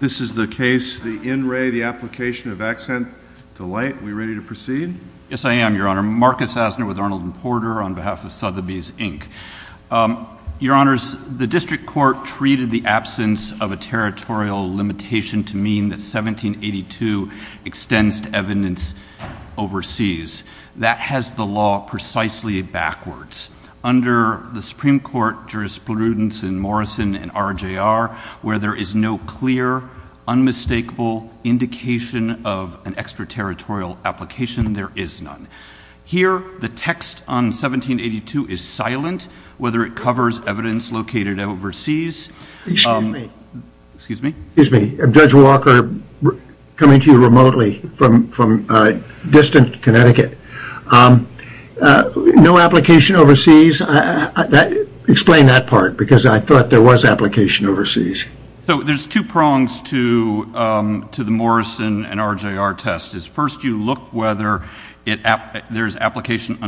This is the case, the In Re, the application of Accent Delight. Are we ready to proceed? Yes, I am, Your Honor. Marcus Asner with Arnold and Porter on behalf of Sotheby's, Inc. Your Honors, the district court treated the absence of a territorial limitation to mean that 1782 extends to evidence overseas. That has the law precisely backwards. Under the Supreme Court jurisprudence in Morrison and RJR, where there is no clear, unmistakable indication of an extraterritorial application, there is none. Here, the text on 1782 is silent, whether it covers evidence located overseas. Excuse me. Excuse me? Excuse me. Judge Walker, coming to you remotely from distant Connecticut. No application overseas. Explain that part, because I thought there was application overseas. So there's two prongs to the Morrison and RJR test. First, you look whether there's application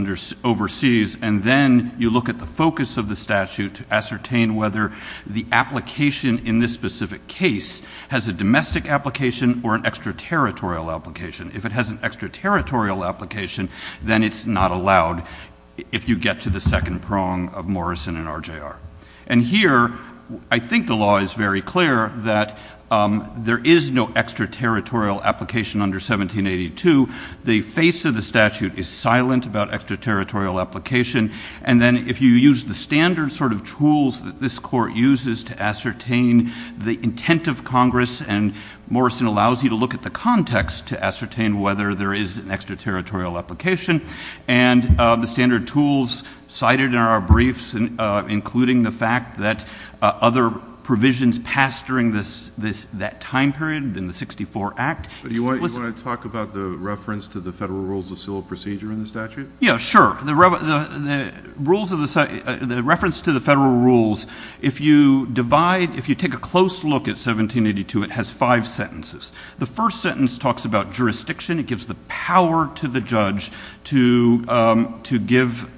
overseas, and then you look at the focus of the statute to ascertain whether the application in this specific case has a domestic application or an extraterritorial application. If it has an extraterritorial application, then it's not allowed if you get to the second prong of Morrison and RJR. And here, I think the law is very clear that there is no extraterritorial application under 1782. The face of the statute is silent about extraterritorial application. And then if you use the standard sort of tools that this court uses to ascertain the intent of Congress, and Morrison allows you to look at the context to ascertain whether there is an extraterritorial application. And the standard tools cited in our briefs, including the fact that other provisions passed during that time period in the 64 Act... But you want to talk about the reference to the federal rules of civil procedure in the statute? Yeah, sure. The rules of the... The reference to the federal rules, if you divide... If you take a close look at 1782, it has five sentences. The first sentence talks about jurisdiction. It gives the power to the judge to give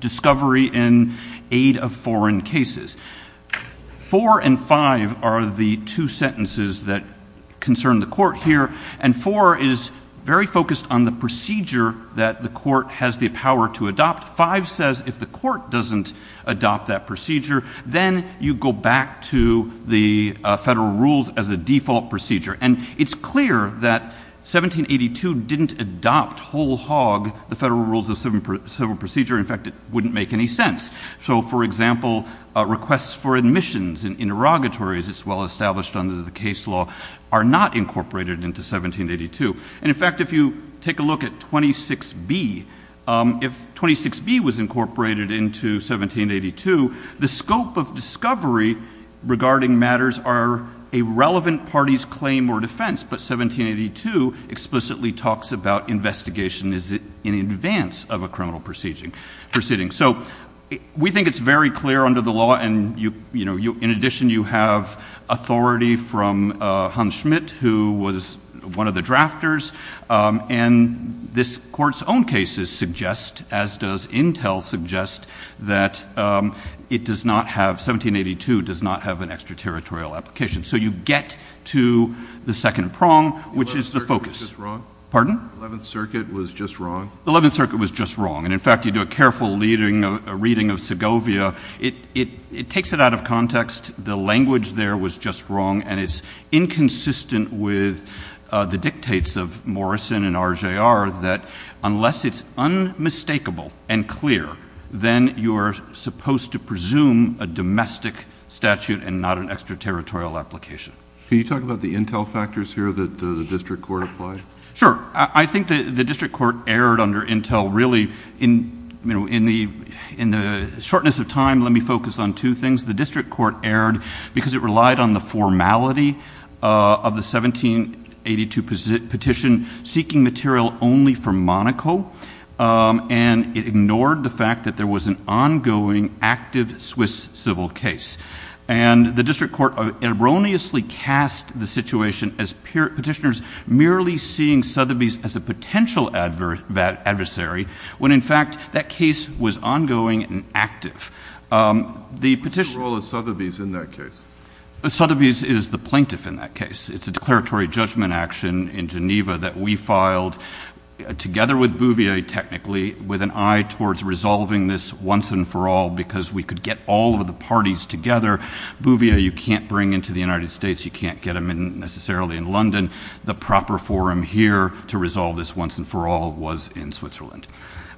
discovery in aid of foreign cases. Four and five are the two sentences that concern the court here. And four is very focused on the procedure that the court has the power to adopt. Five says if the court doesn't adopt that procedure, then you go back to the federal rules as a default procedure. And it's clear that 1782 didn't adopt whole hog the federal rules of civil procedure. In fact, it wouldn't make any sense. So, for example, requests for admissions and interrogatories, it's well established under the case law, are not incorporated into 1782. And in fact, if you take a look at 26B, if 26B was incorporated into 1782, the scope of discovery regarding matters are a relevant party's claim or defence, but 1782 explicitly talks about investigation in advance of a criminal proceeding. So, we think it's very clear under the law. And, you know, in addition, you have authority from Hans Schmidt, who was one of the drafters. And this court's own cases suggest, as does Intel suggest, that it does not have... 1782 does not have an extraterritorial application. So, you get to the second prong, which is the focus. The 11th Circuit was just wrong? Pardon? The 11th Circuit was just wrong? The 11th Circuit was just wrong. And, in fact, you do a careful reading of Segovia, it takes it out of context. The language there was just wrong. And it's inconsistent with the dictates of Morrison and RJR that unless it's unmistakable and clear, then you're supposed to presume a domestic statute and not an extraterritorial application. Can you talk about the Intel factors here that the district court applied? Sure. I think the district court erred under Intel really, you know, in the shortness of time. Let me focus on two things. The district court erred because it relied on the formality of the 1782 petition seeking material only from Monaco. And it ignored the fact that there was an ongoing, active Swiss civil case. And the district court erroneously cast the situation as petitioners merely seeing Sotheby's as a potential adversary, when, in fact, that case was ongoing and active. The petitioner... What's the role of Sotheby's in that case? Sotheby's is the plaintiff in that case. It's a declaratory judgment action in Geneva that we filed together with Bouvier, technically, with an eye towards resolving this once and for all because we could get all of the parties together. Bouvier, you can't bring into the United States. You can't get him in necessarily in London. The proper forum here to resolve this once and for all was in Switzerland.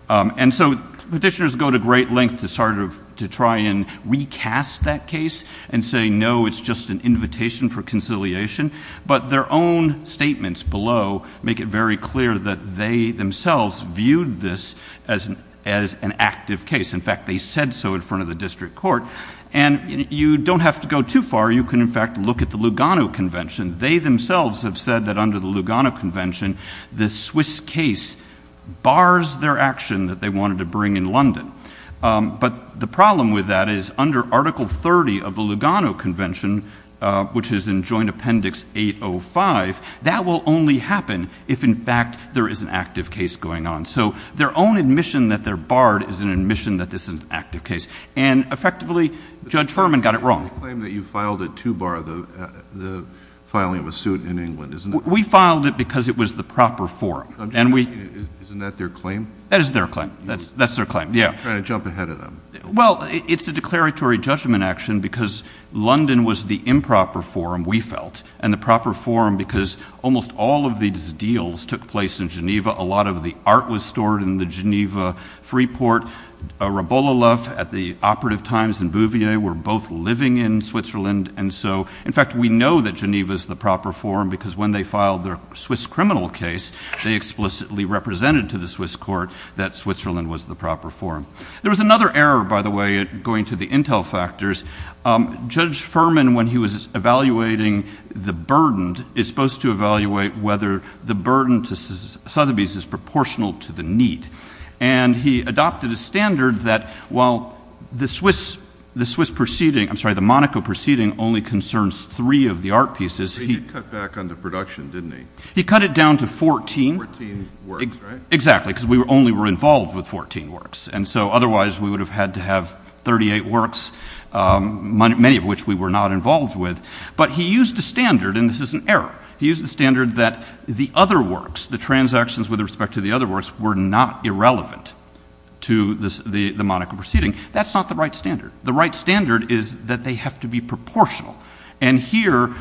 And so petitioners go to great lengths to sort of to try and recast that case and say, no, it's just an invitation for conciliation, but their own statements below make it very clear that they themselves viewed this as an active case. In fact, they said so in front of the district court. And you don't have to go too far. You can, in fact, look at the Lugano Convention. They themselves have said that under the Lugano Convention, the Swiss case bars their action that they wanted to bring in London. But the problem with that is under Article 30 of the Lugano Convention, which is in Joint Appendix 805, that will only happen if, in fact, there is an active case going on. So their own admission that they're barred is an admission that this is an active case. And effectively, Judge Furman got it wrong. But you claim that you filed it to bar the filing of a suit in England, isn't it? We filed it because it was the proper forum. I'm just asking, isn't that their claim? That is their claim. That's their claim, yeah. You're trying to jump ahead of them. Well, it's a declaratory judgment action because London was the improper forum, we felt, and the proper forum because almost all of these deals took place in Geneva. A lot of the art was stored in the Geneva Freeport. Rabola Love at the operative times in Bouvier were both living in Switzerland. And so, in fact, we know that Geneva is the proper forum because when they filed their Swiss criminal case, they explicitly represented to the Swiss court that Switzerland was the proper forum. There was another error, by the way, going to the intel factors. Judge Furman, when he was evaluating the burdened, is supposed to evaluate whether the burden to Sotheby's is proportional to the need. And he adopted a standard that while the Swiss proceeding, I'm sorry, the Monaco proceeding only concerns three of the art pieces. He cut back on the production, didn't he? He cut it down to 14. Fourteen works, right? Exactly, because we only were involved with 14 works. And so, otherwise, we would have had to have 38 works. Many of which we were not involved with. But he used a standard, and this is an error. He used a standard that the other works, the transactions with respect to the other works were not irrelevant to the Monaco proceeding. That's not the right standard. The right standard is that they have to be proportional. And here,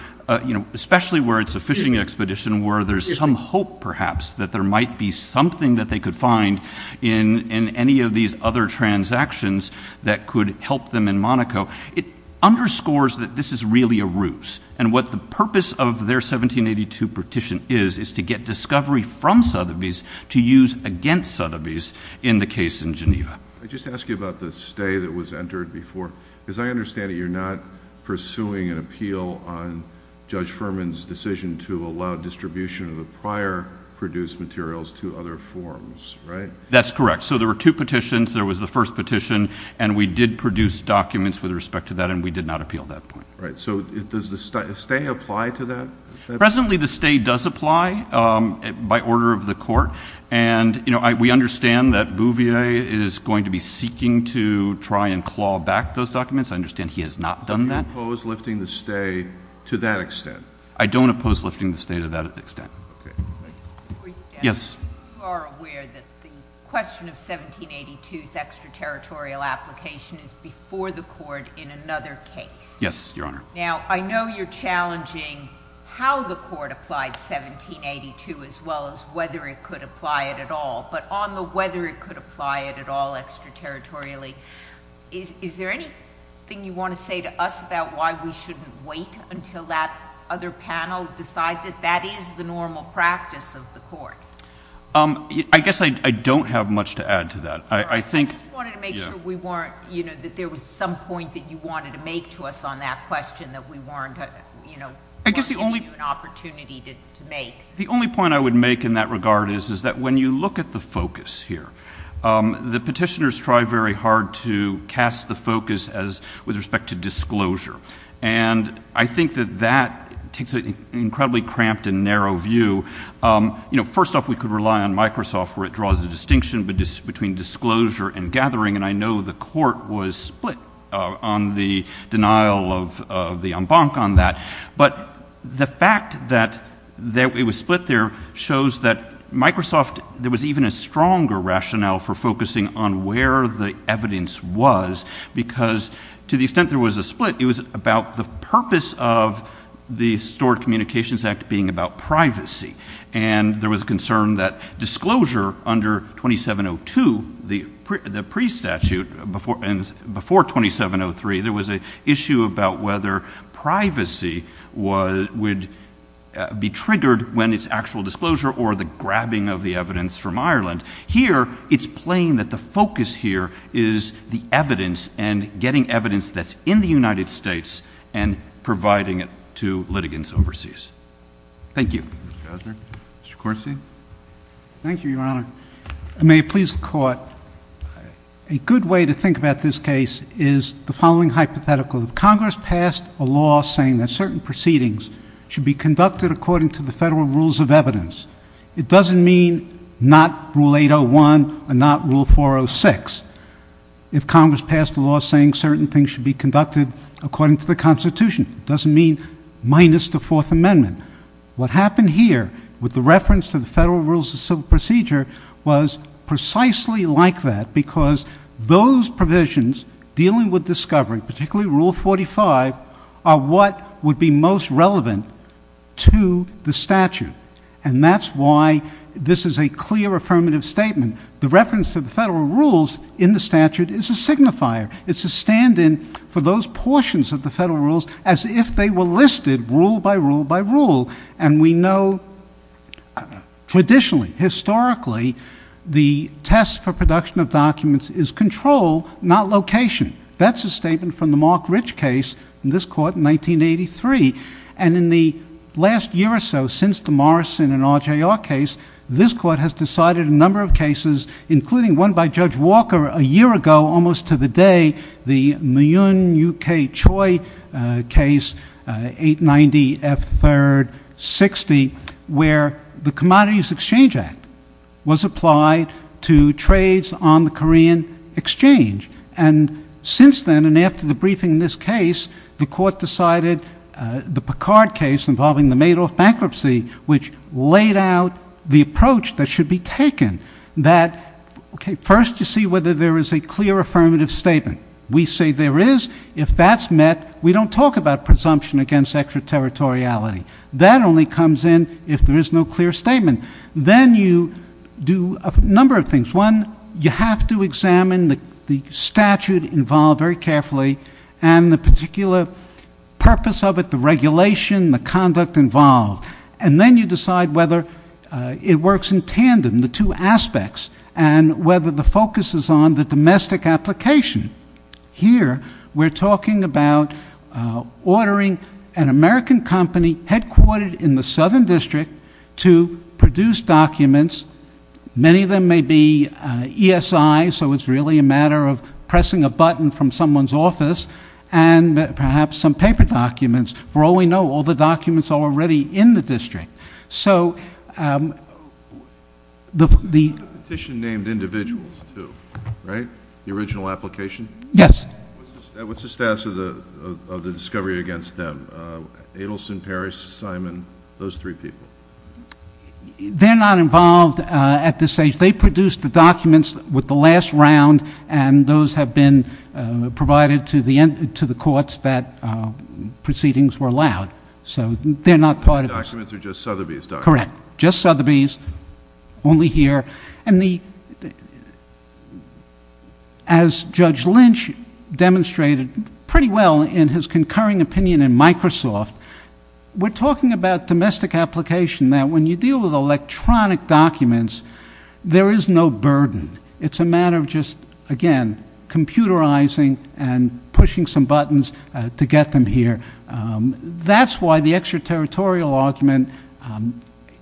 you know, especially where it's a fishing expedition where there's some hope perhaps that there might be something that they could find in any of these other transactions that could help them in Monaco. It underscores that this is really a ruse. And what the purpose of their 1782 petition is, is to get discovery from Sotheby's to use against Sotheby's in the case in Geneva. I just ask you about the stay that was entered before. As I understand it, you're not pursuing an appeal on Judge Furman's decision to allow distribution of the prior produced materials to other forms, right? That's correct. So there were two petitions. There was the first petition, and we did produce documents with respect to that, and we did not appeal that point. Right. So does the stay apply to that? Presently, the stay does apply by order of the court. And, you know, we understand that Bouvier is going to be seeking to try and claw back those documents. I understand he has not done that. So you oppose lifting the stay to that extent? I don't oppose lifting the stay to that extent. Okay. Thank you. Yes. You are aware that the question of 1782's extraterritorial application is before the court in another case? Yes, Your Honor. Now, I know you're challenging how the court applied 1782 as well as whether it could apply it at all. But on the whether it could apply it at all extraterritorially, is there anything you want to say to us about why we shouldn't wait until that other panel decides it? That is the normal practice of the court. I guess I don't have much to add to that. I think... I just wanted to make sure we weren't, you know, that there was some point that you wanted to make to us on that question that we weren't, you know, weren't giving you an opportunity to make. The only point I would make in that regard is that when you look at the focus here, the petitioners try very hard to cast the focus as with respect to disclosure. And I think that that takes an incredibly cramped and narrow view. You know, first off, we could rely on Microsoft where it draws a distinction between disclosure and gathering. And I know the court was split on the denial of the en banc on that, but the fact that it was split there shows that Microsoft, there was even a stronger rationale for focusing on where the evidence was because to the extent there was a split, it was about the purpose of the Stored Communications Act being about privacy. And there was a concern that disclosure under 2702, the pre-statute before 2703, there was an issue about whether privacy would be triggered when it's actual disclosure or the grabbing of the evidence from Ireland. Here, it's plain that the focus here is the evidence and getting evidence that's in the United States and providing it to litigants overseas. Thank you. Mr. Osner. Mr. Corsi. Thank you, Your Honor. May it please the court, a good way to think about this case is the following hypothetical. If Congress passed a law saying that certain proceedings should be conducted according to the federal rules of evidence, it doesn't mean not Rule 801 and not Rule 406. If Congress passed a law saying certain things should be conducted according to the Constitution, it doesn't mean minus the Fourth Amendment. What happened here with the reference to the federal rules of civil procedure was precisely like that because those provisions dealing with discovery, particularly Rule 45, are what would be most relevant to the statute. And that's why this is a clear affirmative statement. The reference to the federal rules in the statute is a signifier. It's a stand-in for those portions of the federal rules as if they were listed rule by rule by rule. And we know traditionally, historically, the test for production of documents is control, not location. That's a statement from the Mark Rich case in this court in 1983. And in the last year or so since the Morrison and RJR case, this court has decided a number of cases, including one by Judge Walker a year ago, almost to the day, the Moon UK Choi case, 890 F3rd 60, where the Commodities Exchange Act was applied to trades on the Korean exchange. And since then, and after the briefing in this case, the court decided the Picard case involving the Madoff bankruptcy, which laid out the approach that should be taken that, okay, first you see whether there is a clear affirmative statement. We say there is. If that's met, we don't talk about presumption against extraterritoriality. That only comes in if there is no clear statement. Then you do a number of things. One, you have to examine the statute involved very carefully and the particular purpose of it, the regulation, the conduct involved. And then you decide whether it works in tandem, the two aspects, and whether the focus is on the domestic application. Here, we're talking about ordering an American company headquartered in the Southern District to produce documents. Many of them may be ESI, so it's really a matter of pressing a button from someone's office and perhaps some paper documents. For all we know, all the documents are already in the district. So the- And the petition named individuals, too, right? The original application? Yes. What's the status of the discovery against them? Adelson, Parris, Simon, those three people? They're not involved at this stage. They produced the documents with the last round and those have been provided to the courts that proceedings were allowed. So they're not part of- The documents are just Sotheby's documents. Correct. Just Sotheby's. Only here. And the- As Judge Lynch demonstrated pretty well in his concurring opinion in Microsoft, we're talking about domestic application, that when you deal with electronic documents, there is no burden. It's a matter of just, again, computerizing and pushing some buttons to get them here. That's why the extraterritorial argument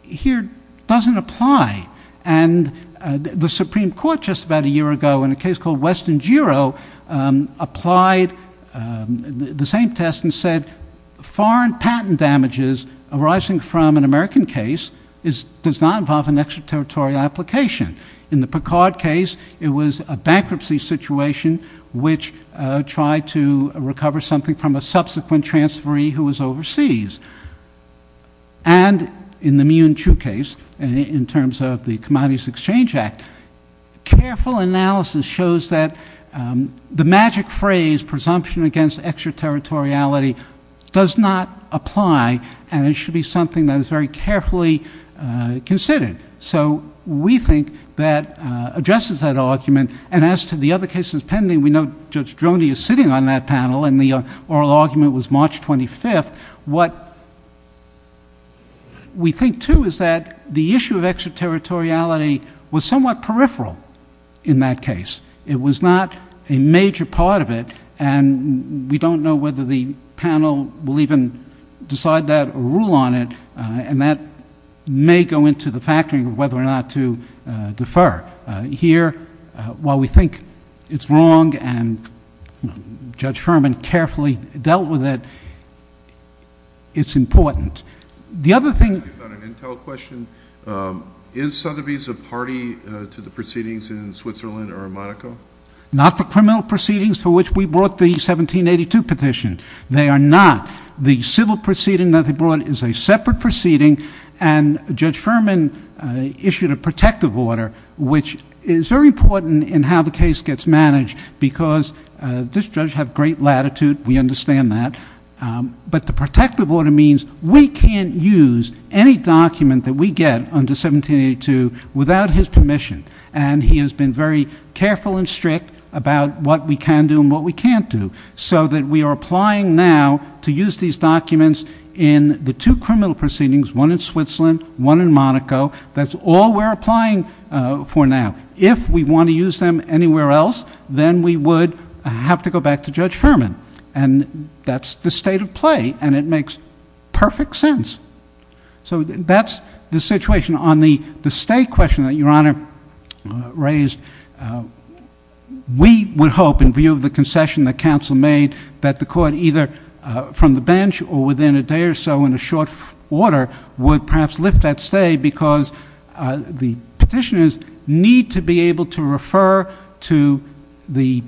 here doesn't apply. And the Supreme Court just about a year ago in a case called West and Giro applied the same test and said foreign patent damages arising from an American case does not involve an extraterritorial application. In the Picard case, it was a bankruptcy situation which tried to recover something from a subsequent transferee who was overseas. And in the Mee-Yun Chu case, in terms of the Commodities Exchange Act, careful analysis shows that the magic phrase, presumption against extraterritoriality, does not apply and it should be something that is very carefully considered. So we think that addresses that argument. And as to the other cases pending, we know Judge Droney is sitting on that panel and the oral argument was March 25th. What we think, too, is that the issue of extraterritoriality was somewhat peripheral in that case. It was not a major part of it. And we don't know whether the panel will even decide that or rule on it. And that may go into the factoring of whether or not to defer. Here, while we think it's wrong and Judge Furman carefully dealt with it, it's important. The other thing... I have an intel question. Is Sotheby's a party to the proceedings in Switzerland or Monaco? Not the criminal proceedings for which we brought the 1782 petition. They are not. The civil proceeding that they brought is a separate proceeding and Judge Furman issued a protective order, which is very important in how the case gets managed because this judge has great latitude. We understand that. But the protective order means we can't use any document that we get under 1782 without his permission. And he has been very careful and strict about what we can do and what we can't do. So that we are applying now to use these documents in the two criminal proceedings, one in Switzerland, one in Monaco, that's all we're applying for now. If we want to use them anywhere else, then we would have to go back to Judge Furman. And that's the state of play and it makes perfect sense. So that's the situation. On the stay question that Your Honor raised, we would hope in view of the concession that counsel made that the court either from the bench or within a day or so in a short order would perhaps lift that stay because the petitioners need to be able to refer to the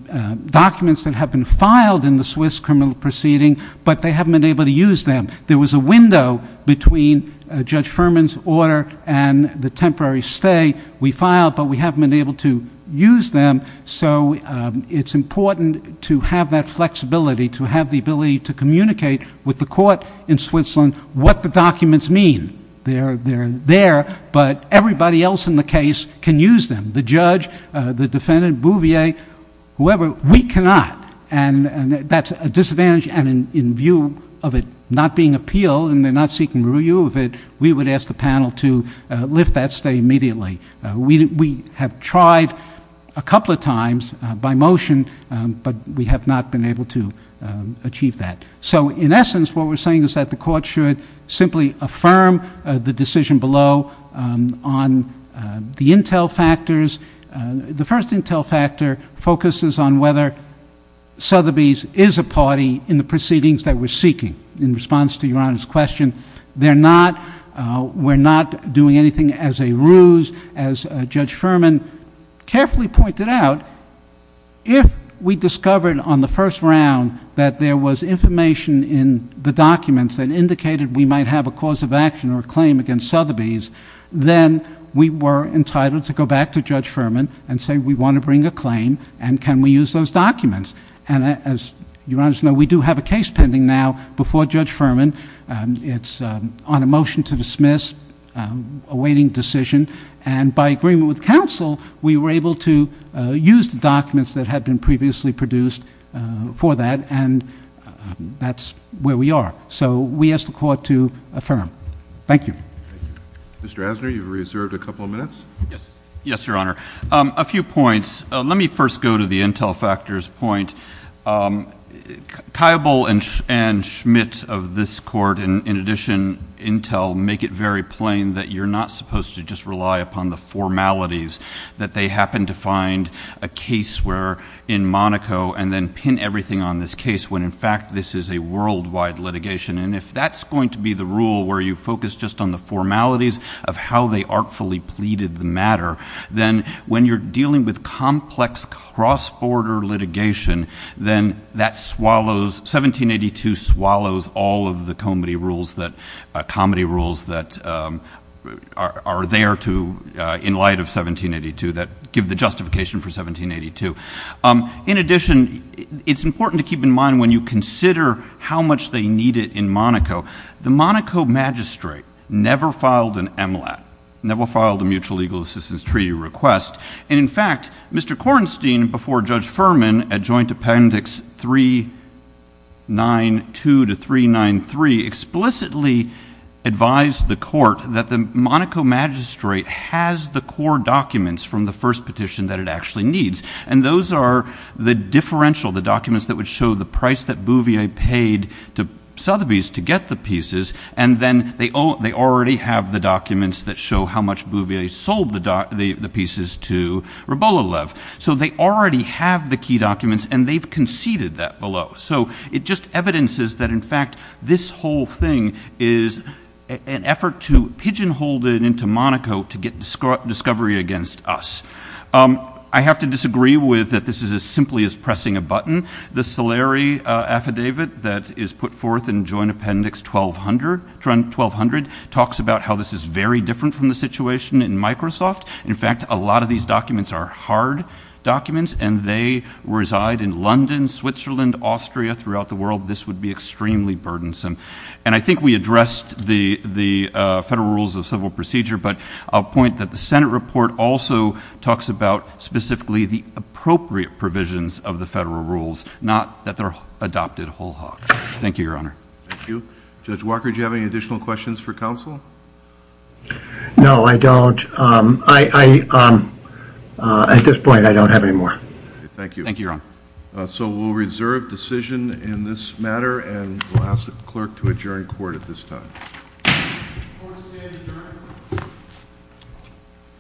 documents that have been filed in the Swiss criminal proceeding but they haven't been able to use them. There was a window between Judge Furman's order and the temporary stay we filed but we haven't been able to use them so it's important to have that flexibility to have the ability to communicate with the court in Switzerland what the documents mean. They're there but everybody else in the case can use them. The judge, the defendant, Bouvier, whoever, we cannot and that's a disadvantage and in view of it not being appealed and they're not seeking review of it, we would ask the panel to lift that stay immediately. We have tried a couple of times by motion but we have not been able to achieve that. So in essence, what we're saying is that the court should simply affirm the decision below on the intel factors. The first intel factor focuses on whether Sotheby's is a party in the proceedings that we're seeking in response to Your Honor's question. They're not, we're not doing anything as a ruse as Judge Furman carefully pointed out. If we discovered on the first round that there was information in the documents that indicated we might have a cause of action or a claim against Sotheby's, then we were entitled to go back to Judge Furman and say we want to bring a claim and can we use those documents. And as Your Honor's know, we do have a case pending now before Judge Furman. It's on a motion to dismiss awaiting decision and by agreement with counsel, we were able to use the documents that had been previously produced for that and that's where we are. So we ask the court to affirm. Thank you. Mr. Asner, you've reserved a couple of minutes. Yes. Yes, Your Honor. A few points. Let me first go to the intel factors point. Kybal and Schmidt of this court, in addition intel, make it very plain that you're not supposed to just rely upon the formalities that they happen to find a case where in Monaco and then pin everything on this case when in fact this is a worldwide litigation. And if that's going to be the rule where you focus just on the formalities of how they artfully pleaded the matter, then when you're dealing with complex cross-border litigation, then that swallows, 1782 swallows all of the comedy rules that, comedy rules that are there to, in light of 1782 that give the justification for 1782. In addition, it's important to keep in mind when you consider how much they need it in Monaco. The Monaco magistrate never filed an MLAT, never filed a mutual legal assistance treaty request. And in fact, Mr. Kornstein before Judge Furman at Joint Appendix 392 to 393 explicitly advised the court that the Monaco magistrate has the core documents from the first petition that it actually needs. And those are the differential, the documents that would show the price that Bouvier paid to Sotheby's to get the pieces. And then they already have the documents that show how much Bouvier sold the pieces to Rebolalev. So they already have the key documents and they've conceded that below. So it just evidences that in fact this whole thing is an effort to pigeonhole it into Monaco to get discovery against us. I have to disagree with that this is as simply as pressing a button. The Soleri affidavit that is put forth in Joint Appendix 1200 talks about how this is very different from the situation in Microsoft. In fact, a lot of these documents are hard documents and they reside in London, Switzerland, Austria throughout the world. This would be extremely burdensome. And I think we addressed the Federal Rules of Civil Procedure, but I'll point that the Senate report also talks about specifically the appropriate provisions of the Federal Rules, not that they're adopted whole hog. Thank you, Your Honor. Thank you. Judge Walker, do you have any additional questions for counsel? No, I don't. At this point, I don't have any more. Thank you. Thank you, Your Honor. So we'll reserve decision in this matter and we'll ask the clerk to adjourn court at this time. Court is adjourned.